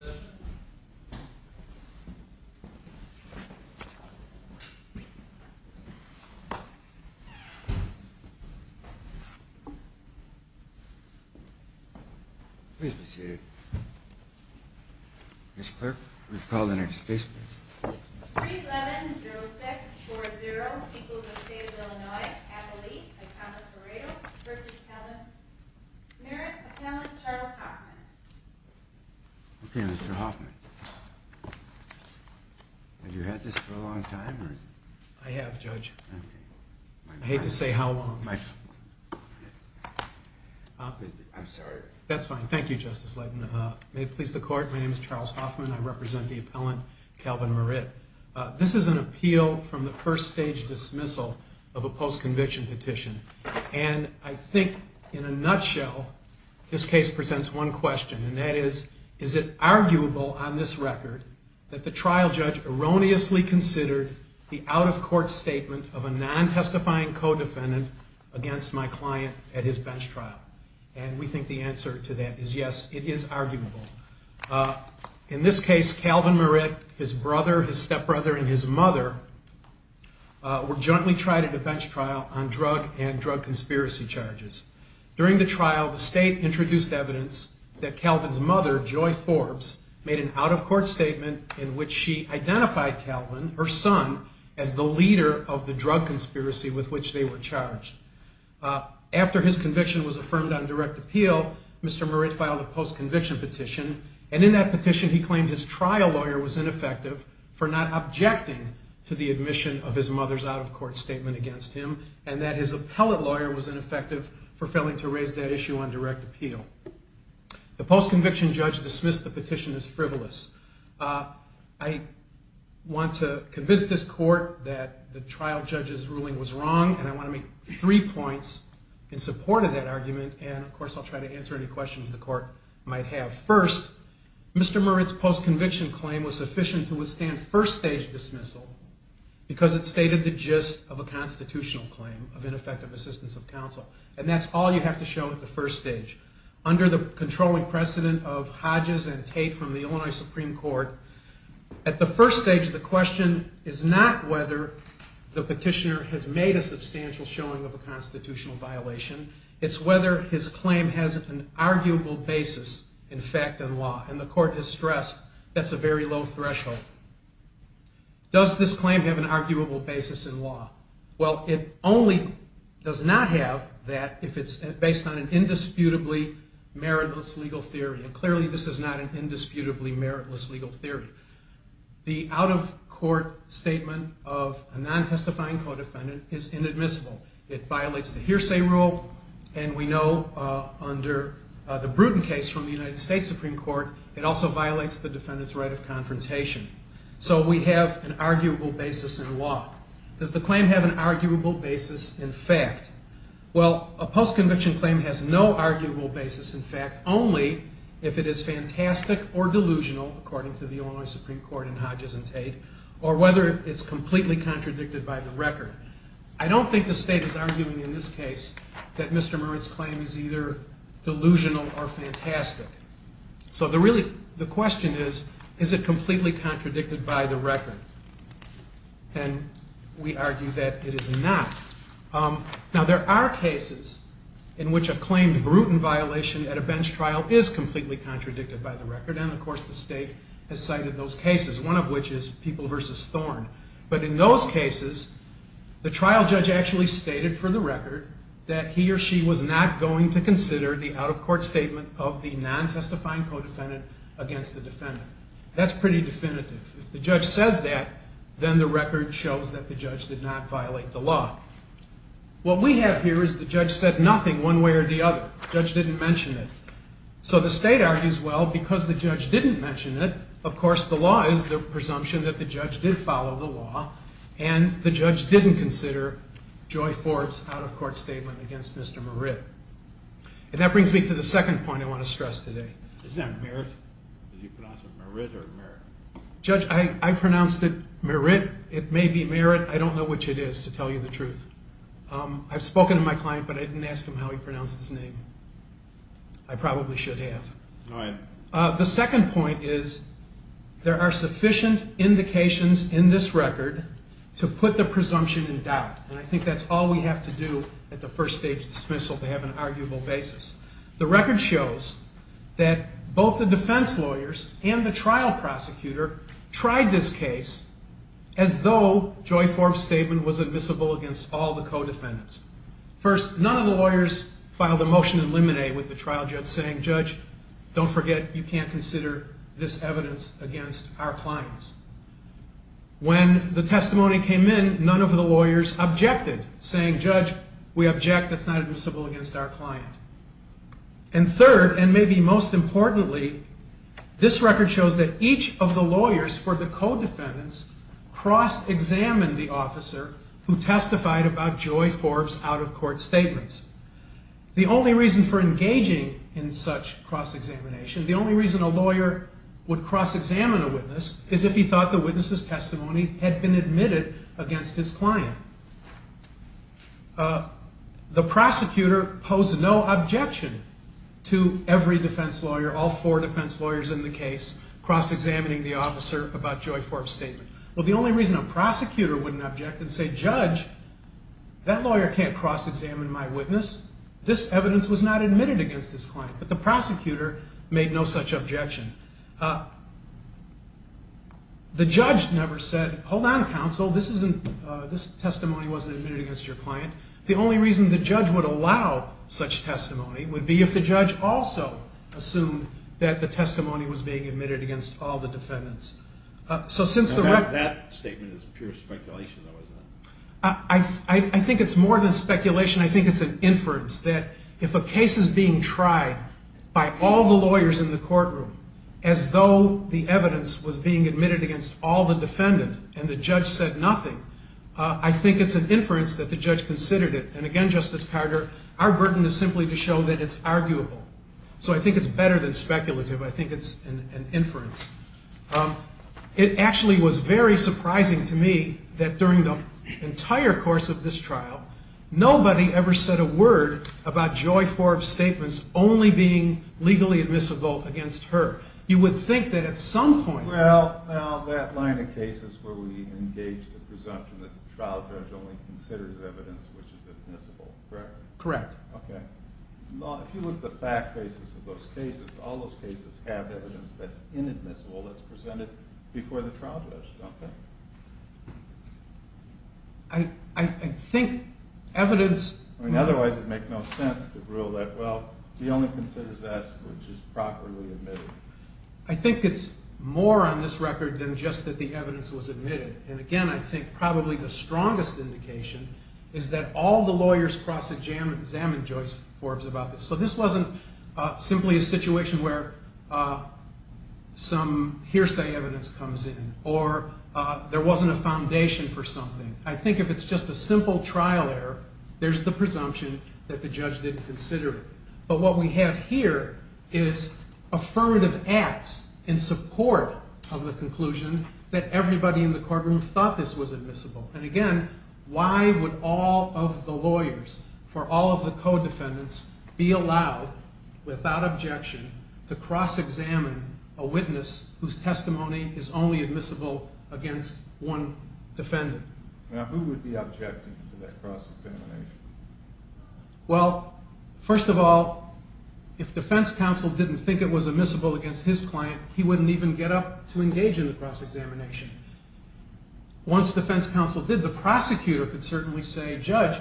310640, people of the state of Illinois, Abilene, Iconis Varedo, v. Merritte, McKinley, Charles Okay, Mr. Hoffman, have you had this for a long time? I have, Judge. I hate to say how long. I'm sorry. That's fine. Thank you, Justice Leighton. May it please the Court, my name is Charles Hoffman. I represent the appellant, Calvin Merritte. This is an appeal from the first stage dismissal of a post-conviction petition. And I think, in a nutshell, this case presents one question, and that is, is it arguable on this record that the trial judge erroneously considered the out-of-court statement of a non-testifying co-defendant against my client at his bench trial? And we think the answer to that is yes, it is arguable. In this case, Calvin Merritte, his brother, his stepbrother, and his mother were jointly tried at a bench trial on drug and drug conspiracy charges. During the trial, the state introduced evidence that Calvin's mother, Joy Forbes, made an out-of-court statement in which she identified Calvin, her son, as the leader of the drug conspiracy with which they were charged. After his conviction was affirmed on direct appeal, Mr. Merritte filed a post-conviction petition, and in that petition he claimed his trial lawyer was ineffective for not objecting to the admission of his mother's out-of-court statement against him, and that his appellate lawyer was ineffective for failing to raise that issue on direct appeal. The post-conviction judge dismissed the petition as frivolous. I want to convince this court that the trial judge's ruling was wrong, and I want to make three points in support of that argument, and of course I'll try to answer any questions the court might have. First, Mr. Merritte's post-conviction claim was sufficient to withstand first-stage dismissal because it stated the gist of a constitutional claim of ineffective assistance of counsel, and that's all you have to show at the first stage. Under the controlling precedent of Hodges and Tate from the Illinois Supreme Court, at the first stage the question is not whether the petitioner has made a substantial showing of a constitutional violation. It's whether his claim has an arguable basis, in fact, in law, and the court has stressed that's a very low threshold. Does this claim have an arguable basis in law? Well, it only does not have that if it's based on an indisputably Merritt-less legal theory, and clearly this is not an indisputably Merritt-less legal theory. The out-of-court statement of a non-testifying co-defendant is inadmissible. It violates the hearsay rule, and we know under the Bruton case from the United States Supreme Court, it also violates the defendant's right of confrontation. So we have an arguable basis in law. Does the claim have an arguable basis in fact? Well, a post-conviction claim has no arguable basis in fact, only if it is fantastic or delusional, according to the Illinois Supreme Court in Hodges and Tate, or whether it's completely contradicted by the record. I don't think the state is arguing in this case that Mr. Merritt's claim is either delusional or fantastic. So the question is, is it completely contradicted by the record? And we argue that it is not. Now, there are cases in which a claimed Bruton violation at a bench trial is completely contradicted by the record, and of course the state has cited those cases, one of which is People v. Thorn. But in those cases, the trial judge actually stated for the record that he or she was not going to consider the out-of-court statement of the non-testifying co-defendant against the defendant. That's pretty definitive. If the judge says that, then the record shows that the judge did not violate the law. What we have here is the judge said nothing one way or the other. The judge didn't mention it. So the state argues, well, because the judge didn't mention it, of course the law is the presumption that the judge did follow the law, and the judge didn't consider Joy Forbes' out-of-court statement against Mr. Merritt. And that brings me to the second point I want to stress today. Is that Merritt? Did you pronounce it Merritt or Merritt? Judge, I pronounced it Merritt. It may be Merritt. I don't know which it is, to tell you the truth. I've spoken to my client, but I didn't ask him how he pronounced his name. I probably should have. Go ahead. The second point is there are sufficient indications in this record to put the presumption in doubt, and I think that's all we have to do at the first stage dismissal to have an arguable basis. The record shows that both the defense lawyers and the trial prosecutor tried this case as though Joy Forbes' statement was admissible against all the co-defendants. First, none of the lawyers filed a motion to eliminate with the trial judge saying, Judge, don't forget you can't consider this evidence against our clients. When the testimony came in, none of the lawyers objected, saying, Judge, we object. It's not admissible against our client. And third, and maybe most importantly, this record shows that each of the lawyers for the co-defendants cross-examined the officer who testified about Joy Forbes' out-of-court statements. The only reason for engaging in such cross-examination, the only reason a lawyer would cross-examine a witness, is if he thought the witness' testimony had been admitted against his client. The prosecutor posed no objection to every defense lawyer, all four defense lawyers in the case, cross-examining the officer about Joy Forbes' statement. Well, the only reason a prosecutor wouldn't object and say, Judge, that lawyer can't cross-examine my witness. This evidence was not admitted against his client. But the prosecutor made no such objection. The judge never said, hold on, counsel, this testimony wasn't admitted against your client. The only reason the judge would allow such testimony would be if the judge also assumed that the testimony was being admitted against all the defendants. That statement is pure speculation, though, isn't it? I think it's more than speculation. I think it's an inference that if a case is being tried by all the lawyers in the courtroom as though the evidence was being admitted against all the defendants and the judge said nothing, I think it's an inference that the judge considered it. And again, Justice Carter, our burden is simply to show that it's arguable. So I think it's better than speculative. I think it's an inference. It actually was very surprising to me that during the entire course of this trial, nobody ever said a word about Joy Forbes' statements only being legally admissible against her. You would think that at some point… Well, now, that line of cases where we engage the presumption that the trial judge only considers evidence which is admissible, correct? Correct. Okay. If you look at the fact basis of those cases, all those cases have evidence that's inadmissible that's presented before the trial judge, don't they? I think evidence… I mean, otherwise it would make no sense to rule that, well, he only considers that which is properly admitted. I think it's more on this record than just that the evidence was admitted. And again, I think probably the strongest indication is that all the lawyers cross-examined Joyce Forbes about this. So this wasn't simply a situation where some hearsay evidence comes in or there wasn't a foundation for something. I think if it's just a simple trial error, there's the presumption that the judge didn't consider it. But what we have here is affirmative acts in support of the conclusion that everybody in the courtroom thought this was admissible. And again, why would all of the lawyers for all of the co-defendants be allowed, without objection, to cross-examine a witness whose testimony is only admissible against one defendant? Now, who would be objecting to that cross-examination? Well, first of all, if defense counsel didn't think it was admissible against his client, he wouldn't even get up to engage in the cross-examination. Once defense counsel did, the prosecutor could certainly say, Judge,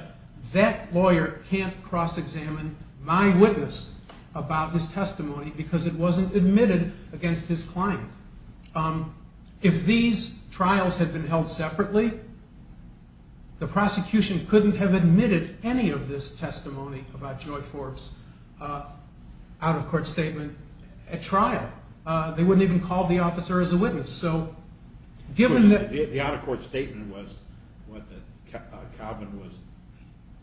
that lawyer can't cross-examine my witness about this testimony because it wasn't admitted against his client. If these trials had been held separately, the prosecution couldn't have admitted any of this testimony about Joyce Forbes' out-of-court statement at trial. They wouldn't even call the officer as a witness. The out-of-court statement was that Calvin was...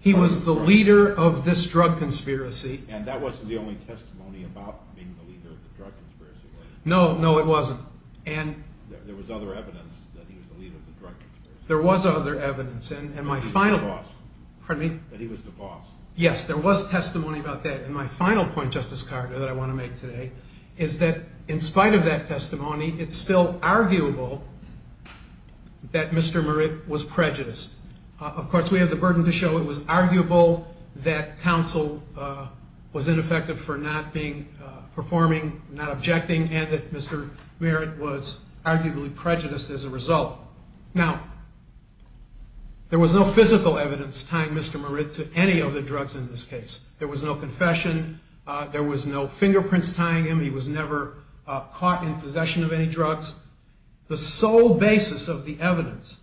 He was the leader of this drug conspiracy. And that wasn't the only testimony about being the leader of the drug conspiracy. No, no, it wasn't. And... There was other evidence that he was the leader of the drug conspiracy. There was other evidence. And my final... That he was the boss. Pardon me? That he was the boss. Yes, there was testimony about that. And my final point, Justice Carter, that I want to make today, is that in spite of that testimony, it's still arguable that Mr. Merritt was prejudiced. Of course, we have the burden to show it was arguable that counsel was ineffective for not being... Performing, not objecting, and that Mr. Merritt was arguably prejudiced as a result. Now, there was no physical evidence tying Mr. Merritt to any of the drugs in this case. There was no confession. There was no fingerprints tying him. He was never caught in possession of any drugs. The sole basis of the evidence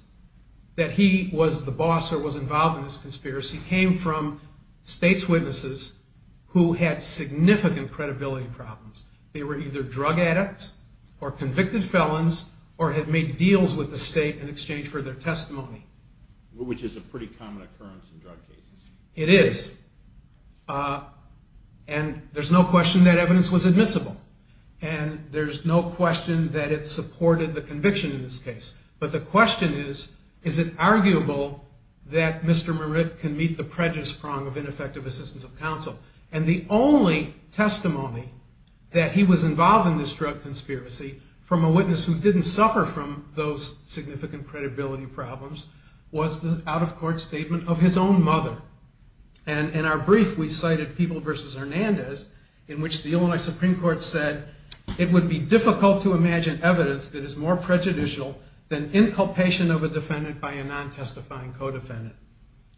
that he was the boss or was involved in this conspiracy came from state's witnesses who had significant credibility problems. They were either drug addicts or convicted felons or had made deals with the state in exchange for their testimony. Which is a pretty common occurrence in drug cases. It is. And there's no question that evidence was admissible. And there's no question that it supported the conviction in this case. But the question is, is it arguable that Mr. Merritt can meet the prejudice prong of ineffective assistance of counsel? And the only testimony that he was involved in this drug conspiracy from a witness who didn't suffer from those significant credibility problems was the out-of-court statement of his own mother. And in our brief, we cited People v. Hernandez, in which the Illinois Supreme Court said, it would be difficult to imagine evidence that is more prejudicial than inculpation of a defendant by a non-testifying co-defendant.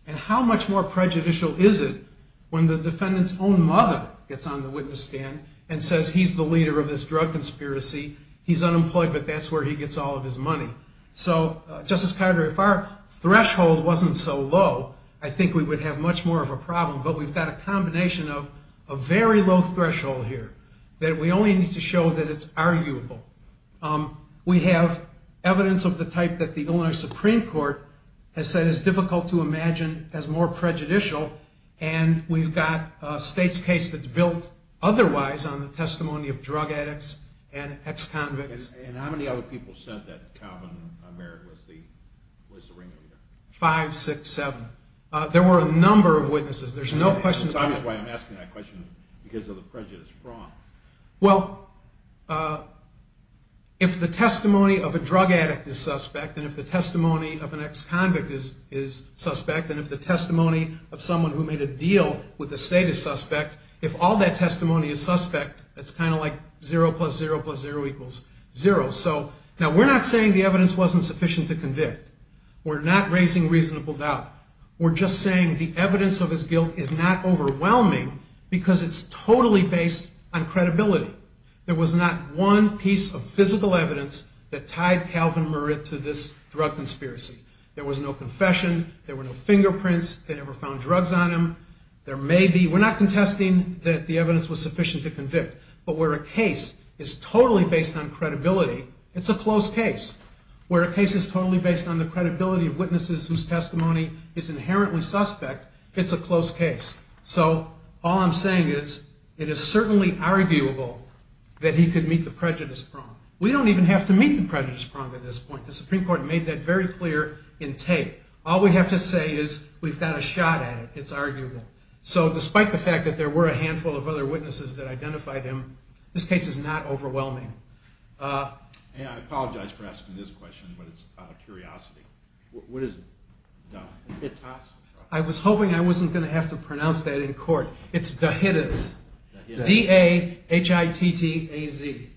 And how much more prejudicial is it when the defendant's own mother gets on the witness stand and says he's the leader of this drug conspiracy. He's unemployed, but that's where he gets all of his money. So, Justice Carter, if our threshold wasn't so low, I think we would have much more of a problem. But we've got a combination of a very low threshold here that we only need to show that it's arguable. We have evidence of the type that the Illinois Supreme Court has said is difficult to imagine as more prejudicial. And we've got a state's case that's built otherwise on the testimony of drug addicts and ex-convicts. And how many other people said that Calvin Merritt was the ringleader? Five, six, seven. There were a number of witnesses. It's obvious why I'm asking that question, because of the prejudice fraud. Well, if the testimony of a drug addict is suspect, and if the testimony of an ex-convict is suspect, and if the testimony of someone who made a deal with the state is suspect, if all that testimony is suspect, it's kind of like 0 plus 0 plus 0 equals 0. So, now we're not saying the evidence wasn't sufficient to convict. We're not raising reasonable doubt. We're just saying the evidence of his guilt is not overwhelming because it's totally based on credibility. There was not one piece of physical evidence that tied Calvin Merritt to this drug conspiracy. There was no confession. There were no fingerprints. They never found drugs on him. We're not contesting that the evidence was sufficient to convict, but where a case is totally based on credibility, it's a close case. Where a case is totally based on the credibility of witnesses whose testimony is inherently suspect, it's a close case. So, all I'm saying is, it is certainly arguable that he could meet the prejudice prong. We don't even have to meet the prejudice prong at this point. The Supreme Court made that very clear in tape. All we have to say is, we've got a shot at it. It's arguable. So, despite the fact that there were a handful of other witnesses that identified him, this case is not overwhelming. I apologize for asking this question, but it's out of curiosity. What is it? I was hoping I wasn't going to have to pronounce that in court. It's DAHITTAS. D-A-H-I-T-T-A-Z.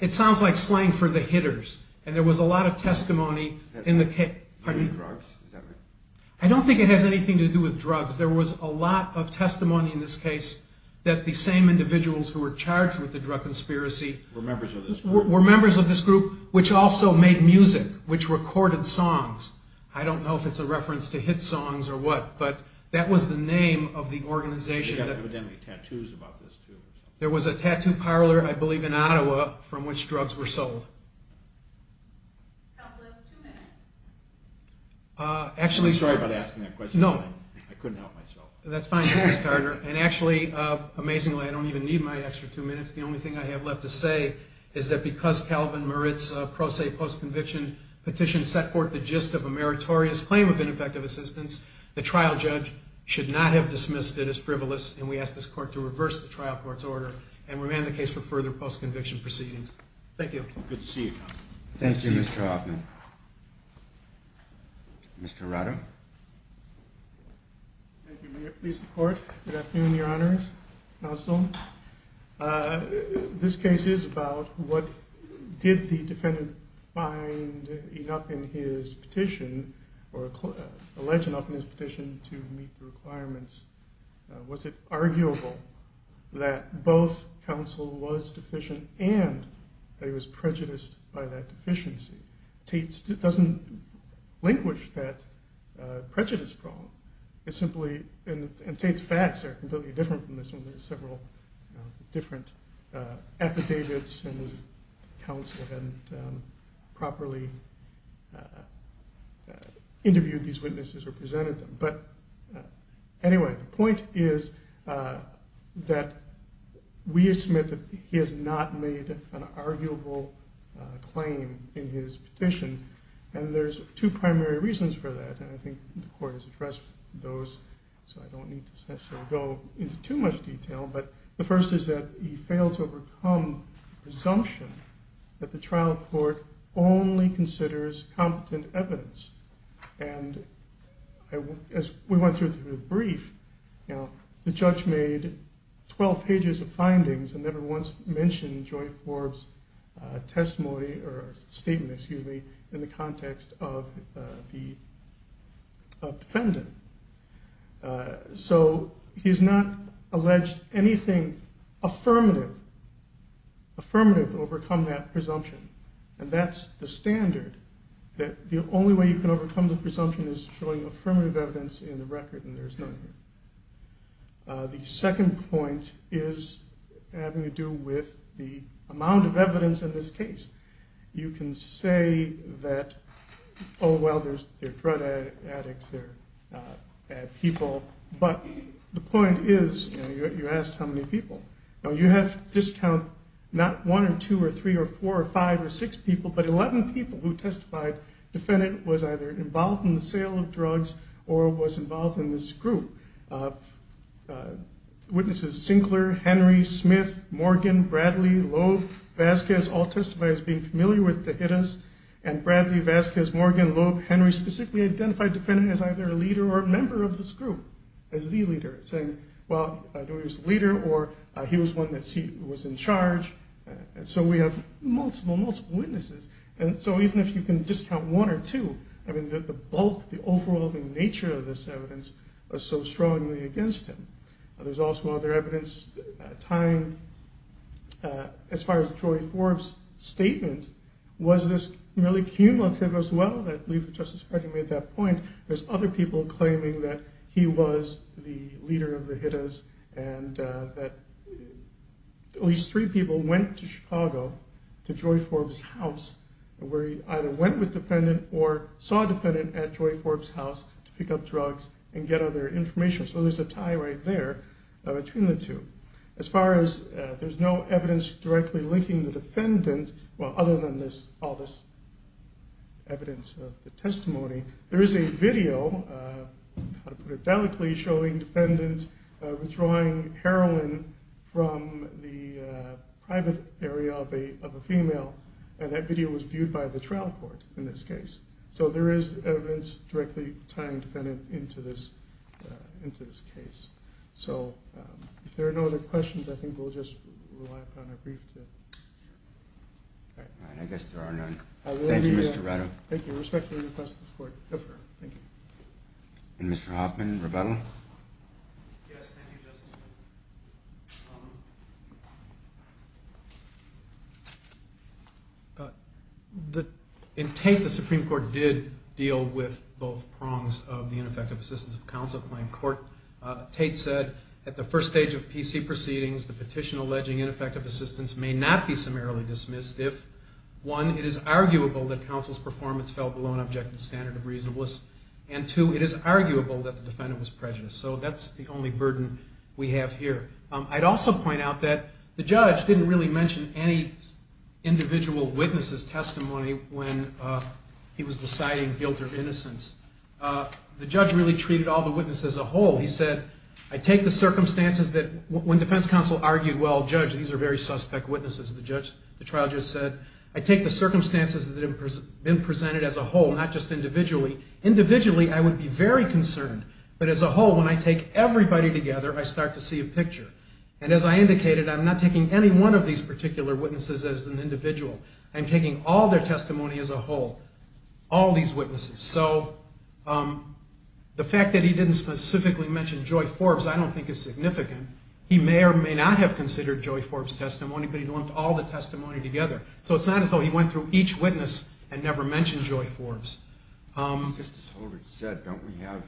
It sounds like slang for the hitters. And there was a lot of testimony in the case. I don't think it has anything to do with drugs. There was a lot of testimony in this case that the same individuals who were charged with the drug conspiracy were members of this group, which also made music, which recorded songs. I don't know if it's a reference to hit songs or what, but that was the name of the organization. There was a tattoo parlor, I believe in Ottawa, from which drugs were sold. That was the last two minutes. I'm sorry about asking that question. I couldn't help myself. That's fine, Justice Carter. And actually, amazingly, I don't even need my extra two minutes. The only thing I have left to say is that because Calvin Merritt's pro se post-conviction petition set forth the gist of a meritorious claim of ineffective assistance, the trial judge should not have dismissed it as frivolous, and we ask this court to reverse the trial court's order and remand the case for further post-conviction proceedings. Thank you. Good to see you. Thank you, Mr. Hoffman. Mr. Rado. Thank you, Mr. Court. Good afternoon, Your Honors. Counsel. This case is about what did the defendant find enough in his petition or alleged enough in his petition to meet the requirements? Was it arguable that both counsel was deficient and that he was prejudiced by that deficiency? Tate doesn't languish that prejudice problem. It's simply, and Tate's facts are completely different from this one. There are several different affidavits and counsel hadn't properly interviewed these witnesses or presented them. But anyway, the point is that we submit that he has not made an arguable claim in his petition, and there's two primary reasons for that, and I think the court has addressed those, so I don't need to necessarily go into too much detail. But the first is that he failed to overcome the presumption that the trial court only considers competent evidence. And as we went through the brief, the judge made 12 pages of findings and never once mentioned Joy Forbes' testimony or statement, excuse me, in the context of the defendant. So he's not alleged anything affirmative, affirmative to overcome that presumption. And that's the standard, that the only way you can overcome the presumption is showing affirmative evidence in the record, and there's none here. The second point is having to do with the amount of evidence in this case. You can say that, oh well, they're drug addicts, they're bad people, but the point is, you asked how many people. You have to discount not one or two or three or four or five or six people, but 11 people who testified the defendant was either involved in the sale of drugs or was involved in this group. Witnesses, Sinclair, Henry, Smith, Morgan, Bradley, Loeb, Vasquez, all testified as being familiar with the Hittas. And Bradley, Vasquez, Morgan, Loeb, Henry specifically identified the defendant as either a leader or a member of this group, as the leader, saying, well, he was the leader or he was one that was in charge. So we have multiple, multiple witnesses. And so even if you can discount one or two, I mean, the bulk, the overwhelming nature of this evidence was so strongly against him. There's also other evidence tying, as far as Joy Forbes' statement, was this really cumulative as well? I believe that Justice Hardy made that point. There's other people claiming that he was the leader of the Hittas and that at least three people went to Chicago to Joy Forbes' house where he either went with the defendant or saw a defendant at Joy Forbes' house to pick up drugs and get other information. So there's a tie right there between the two. As far as there's no evidence directly linking the defendant, well, other than all this evidence of the testimony, there is a video, how to put it delicately, showing a defendant withdrawing heroin from the private area of a female, and that video was viewed by the trial court in this case. So there is evidence directly tying the defendant into this case. So if there are no other questions, I think we'll just rely upon a brief tip. All right. I guess there are none. Thank you, Mr. Rado. Thank you. Respectfully request the support. Go for it. Thank you. And Mr. Hoffman, rebuttal? Yes, thank you, Justice. In Tate, the Supreme Court did deal with both prongs of the ineffective assistance of counsel claim. Tate said at the first stage of PC proceedings, the petition alleging ineffective assistance may not be summarily dismissed if, one, it is arguable that counsel's performance fell below an objective standard of reasonableness, and, two, it is arguable that the defendant was prejudiced. So that's the only burden we have here. I'd also point out that the judge didn't really mention any individual witness's testimony when he was deciding guilt or innocence. The judge really treated all the witnesses as a whole. He said, I take the circumstances that when defense counsel argued, well, judge, these are very suspect witnesses. The trial judge said, I take the circumstances that have been presented as a whole, not just individually. Individually, I would be very concerned. But as a whole, when I take everybody together, I start to see a picture. And as I indicated, I'm not taking any one of these particular witnesses as an individual. I'm taking all their testimony as a whole, all these witnesses. So the fact that he didn't specifically mention Joy Forbes I don't think is significant. He may or may not have considered Joy Forbes' testimony, but he lumped all the testimony together. So it's not as though he went through each witness and never mentioned Joy Forbes. Justice Holder said, don't we have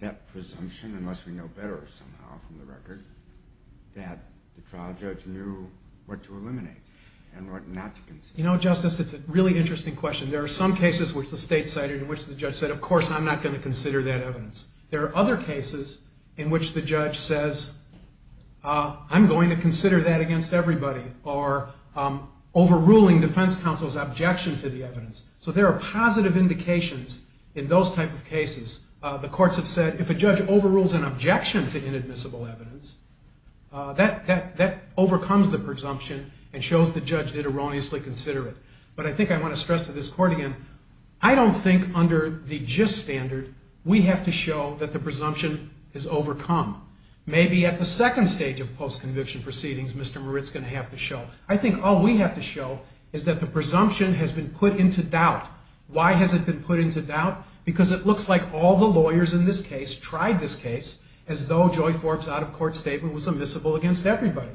that presumption, unless we know better somehow from the record, that the trial judge knew what to eliminate and what not to consider? You know, Justice, it's a really interesting question. There are some cases which the state cited in which the judge said, of course, I'm not going to consider that evidence. There are other cases in which the judge says, I'm going to consider that against everybody, or overruling defense counsel's objection to the evidence. So there are positive indications in those type of cases. The courts have said, if a judge overrules an objection to inadmissible evidence, that overcomes the presumption and shows the judge did erroneously consider it. But I think I want to stress to this court again, I don't think under the gist standard we have to show that the presumption is overcome. Maybe at the second stage of post-conviction proceedings Mr. Moritz is going to have to show. I think all we have to show is that the presumption has been put into doubt. Why has it been put into doubt? Because it looks like all the lawyers in this case tried this case as though Joy Forbes' out-of-court statement was admissible against everybody,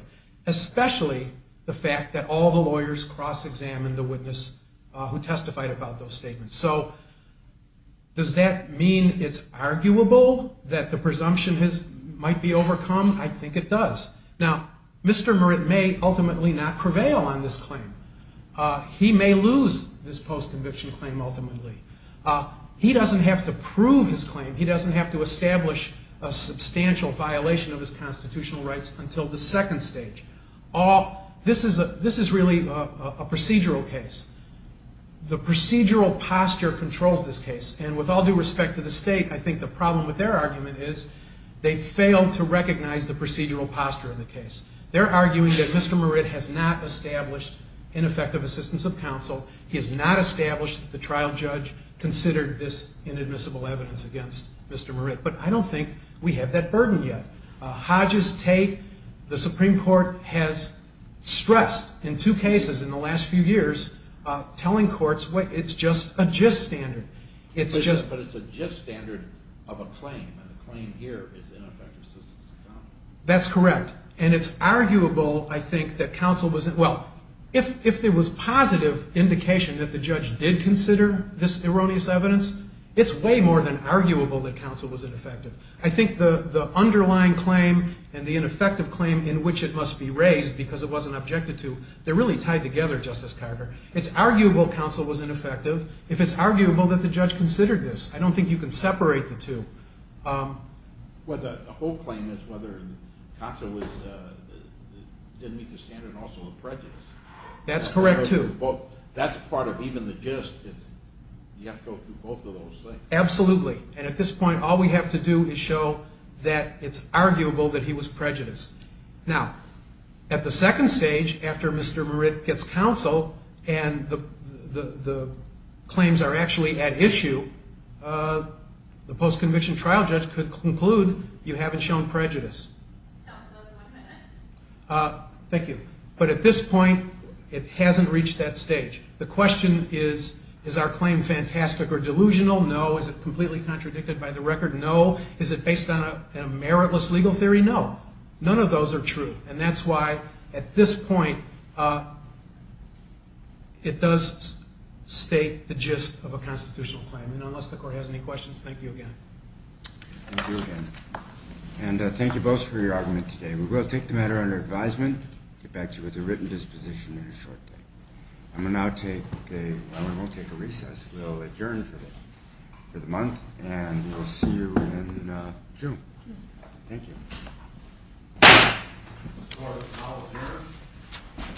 especially the fact that all the lawyers cross-examined the witness who testified about those statements. So does that mean it's arguable that the presumption might be overcome? I think it does. Now, Mr. Moritz may ultimately not prevail on this claim. He may lose this post-conviction claim ultimately. He doesn't have to prove his claim. He doesn't have to establish a substantial violation of his constitutional rights until the second stage. This is really a procedural case. The procedural posture controls this case. And with all due respect to the state, I think the problem with their argument is they failed to recognize the procedural posture in the case. They're arguing that Mr. Moritz has not established ineffective assistance of counsel. He has not established that the trial judge considered this inadmissible evidence against Mr. Moritz. But I don't think we have that burden yet. Hodge's take, the Supreme Court has stressed in two cases in the last few years, telling courts it's just a gist standard. But it's a gist standard of a claim, and the claim here is ineffective assistance of counsel. That's correct. And it's arguable, I think, that counsel was at well. If there was positive indication that the judge did consider this erroneous evidence, it's way more than arguable that counsel was ineffective. I think the underlying claim and the ineffective claim in which it must be raised because it wasn't objected to, they're really tied together, Justice Carter. It's arguable counsel was ineffective if it's arguable that the judge considered this. I don't think you can separate the two. Well, the whole claim is whether counsel didn't meet the standard and also the prejudice. That's correct, too. That's part of even the gist. You have to go through both of those things. Absolutely. And at this point, all we have to do is show that it's arguable that he was prejudiced. Now, at the second stage, after Mr. Moritz gets counsel and the claims are actually at issue, the post-conviction trial judge could conclude you haven't shown prejudice. Thank you. But at this point, it hasn't reached that stage. The question is, is our claim fantastic or delusional? No. Is it completely contradicted by the record? No. Is it based on a meritless legal theory? No. None of those are true. And that's why, at this point, it does state the gist of a constitutional claim. And unless the Court has any questions, thank you again. Thank you again. And thank you both for your argument today. We will take the matter under advisement and get back to you with a written disposition in a short time. I will now take a recess. We'll adjourn for the month, and we'll see you in June. Thank you. This court is now adjourned.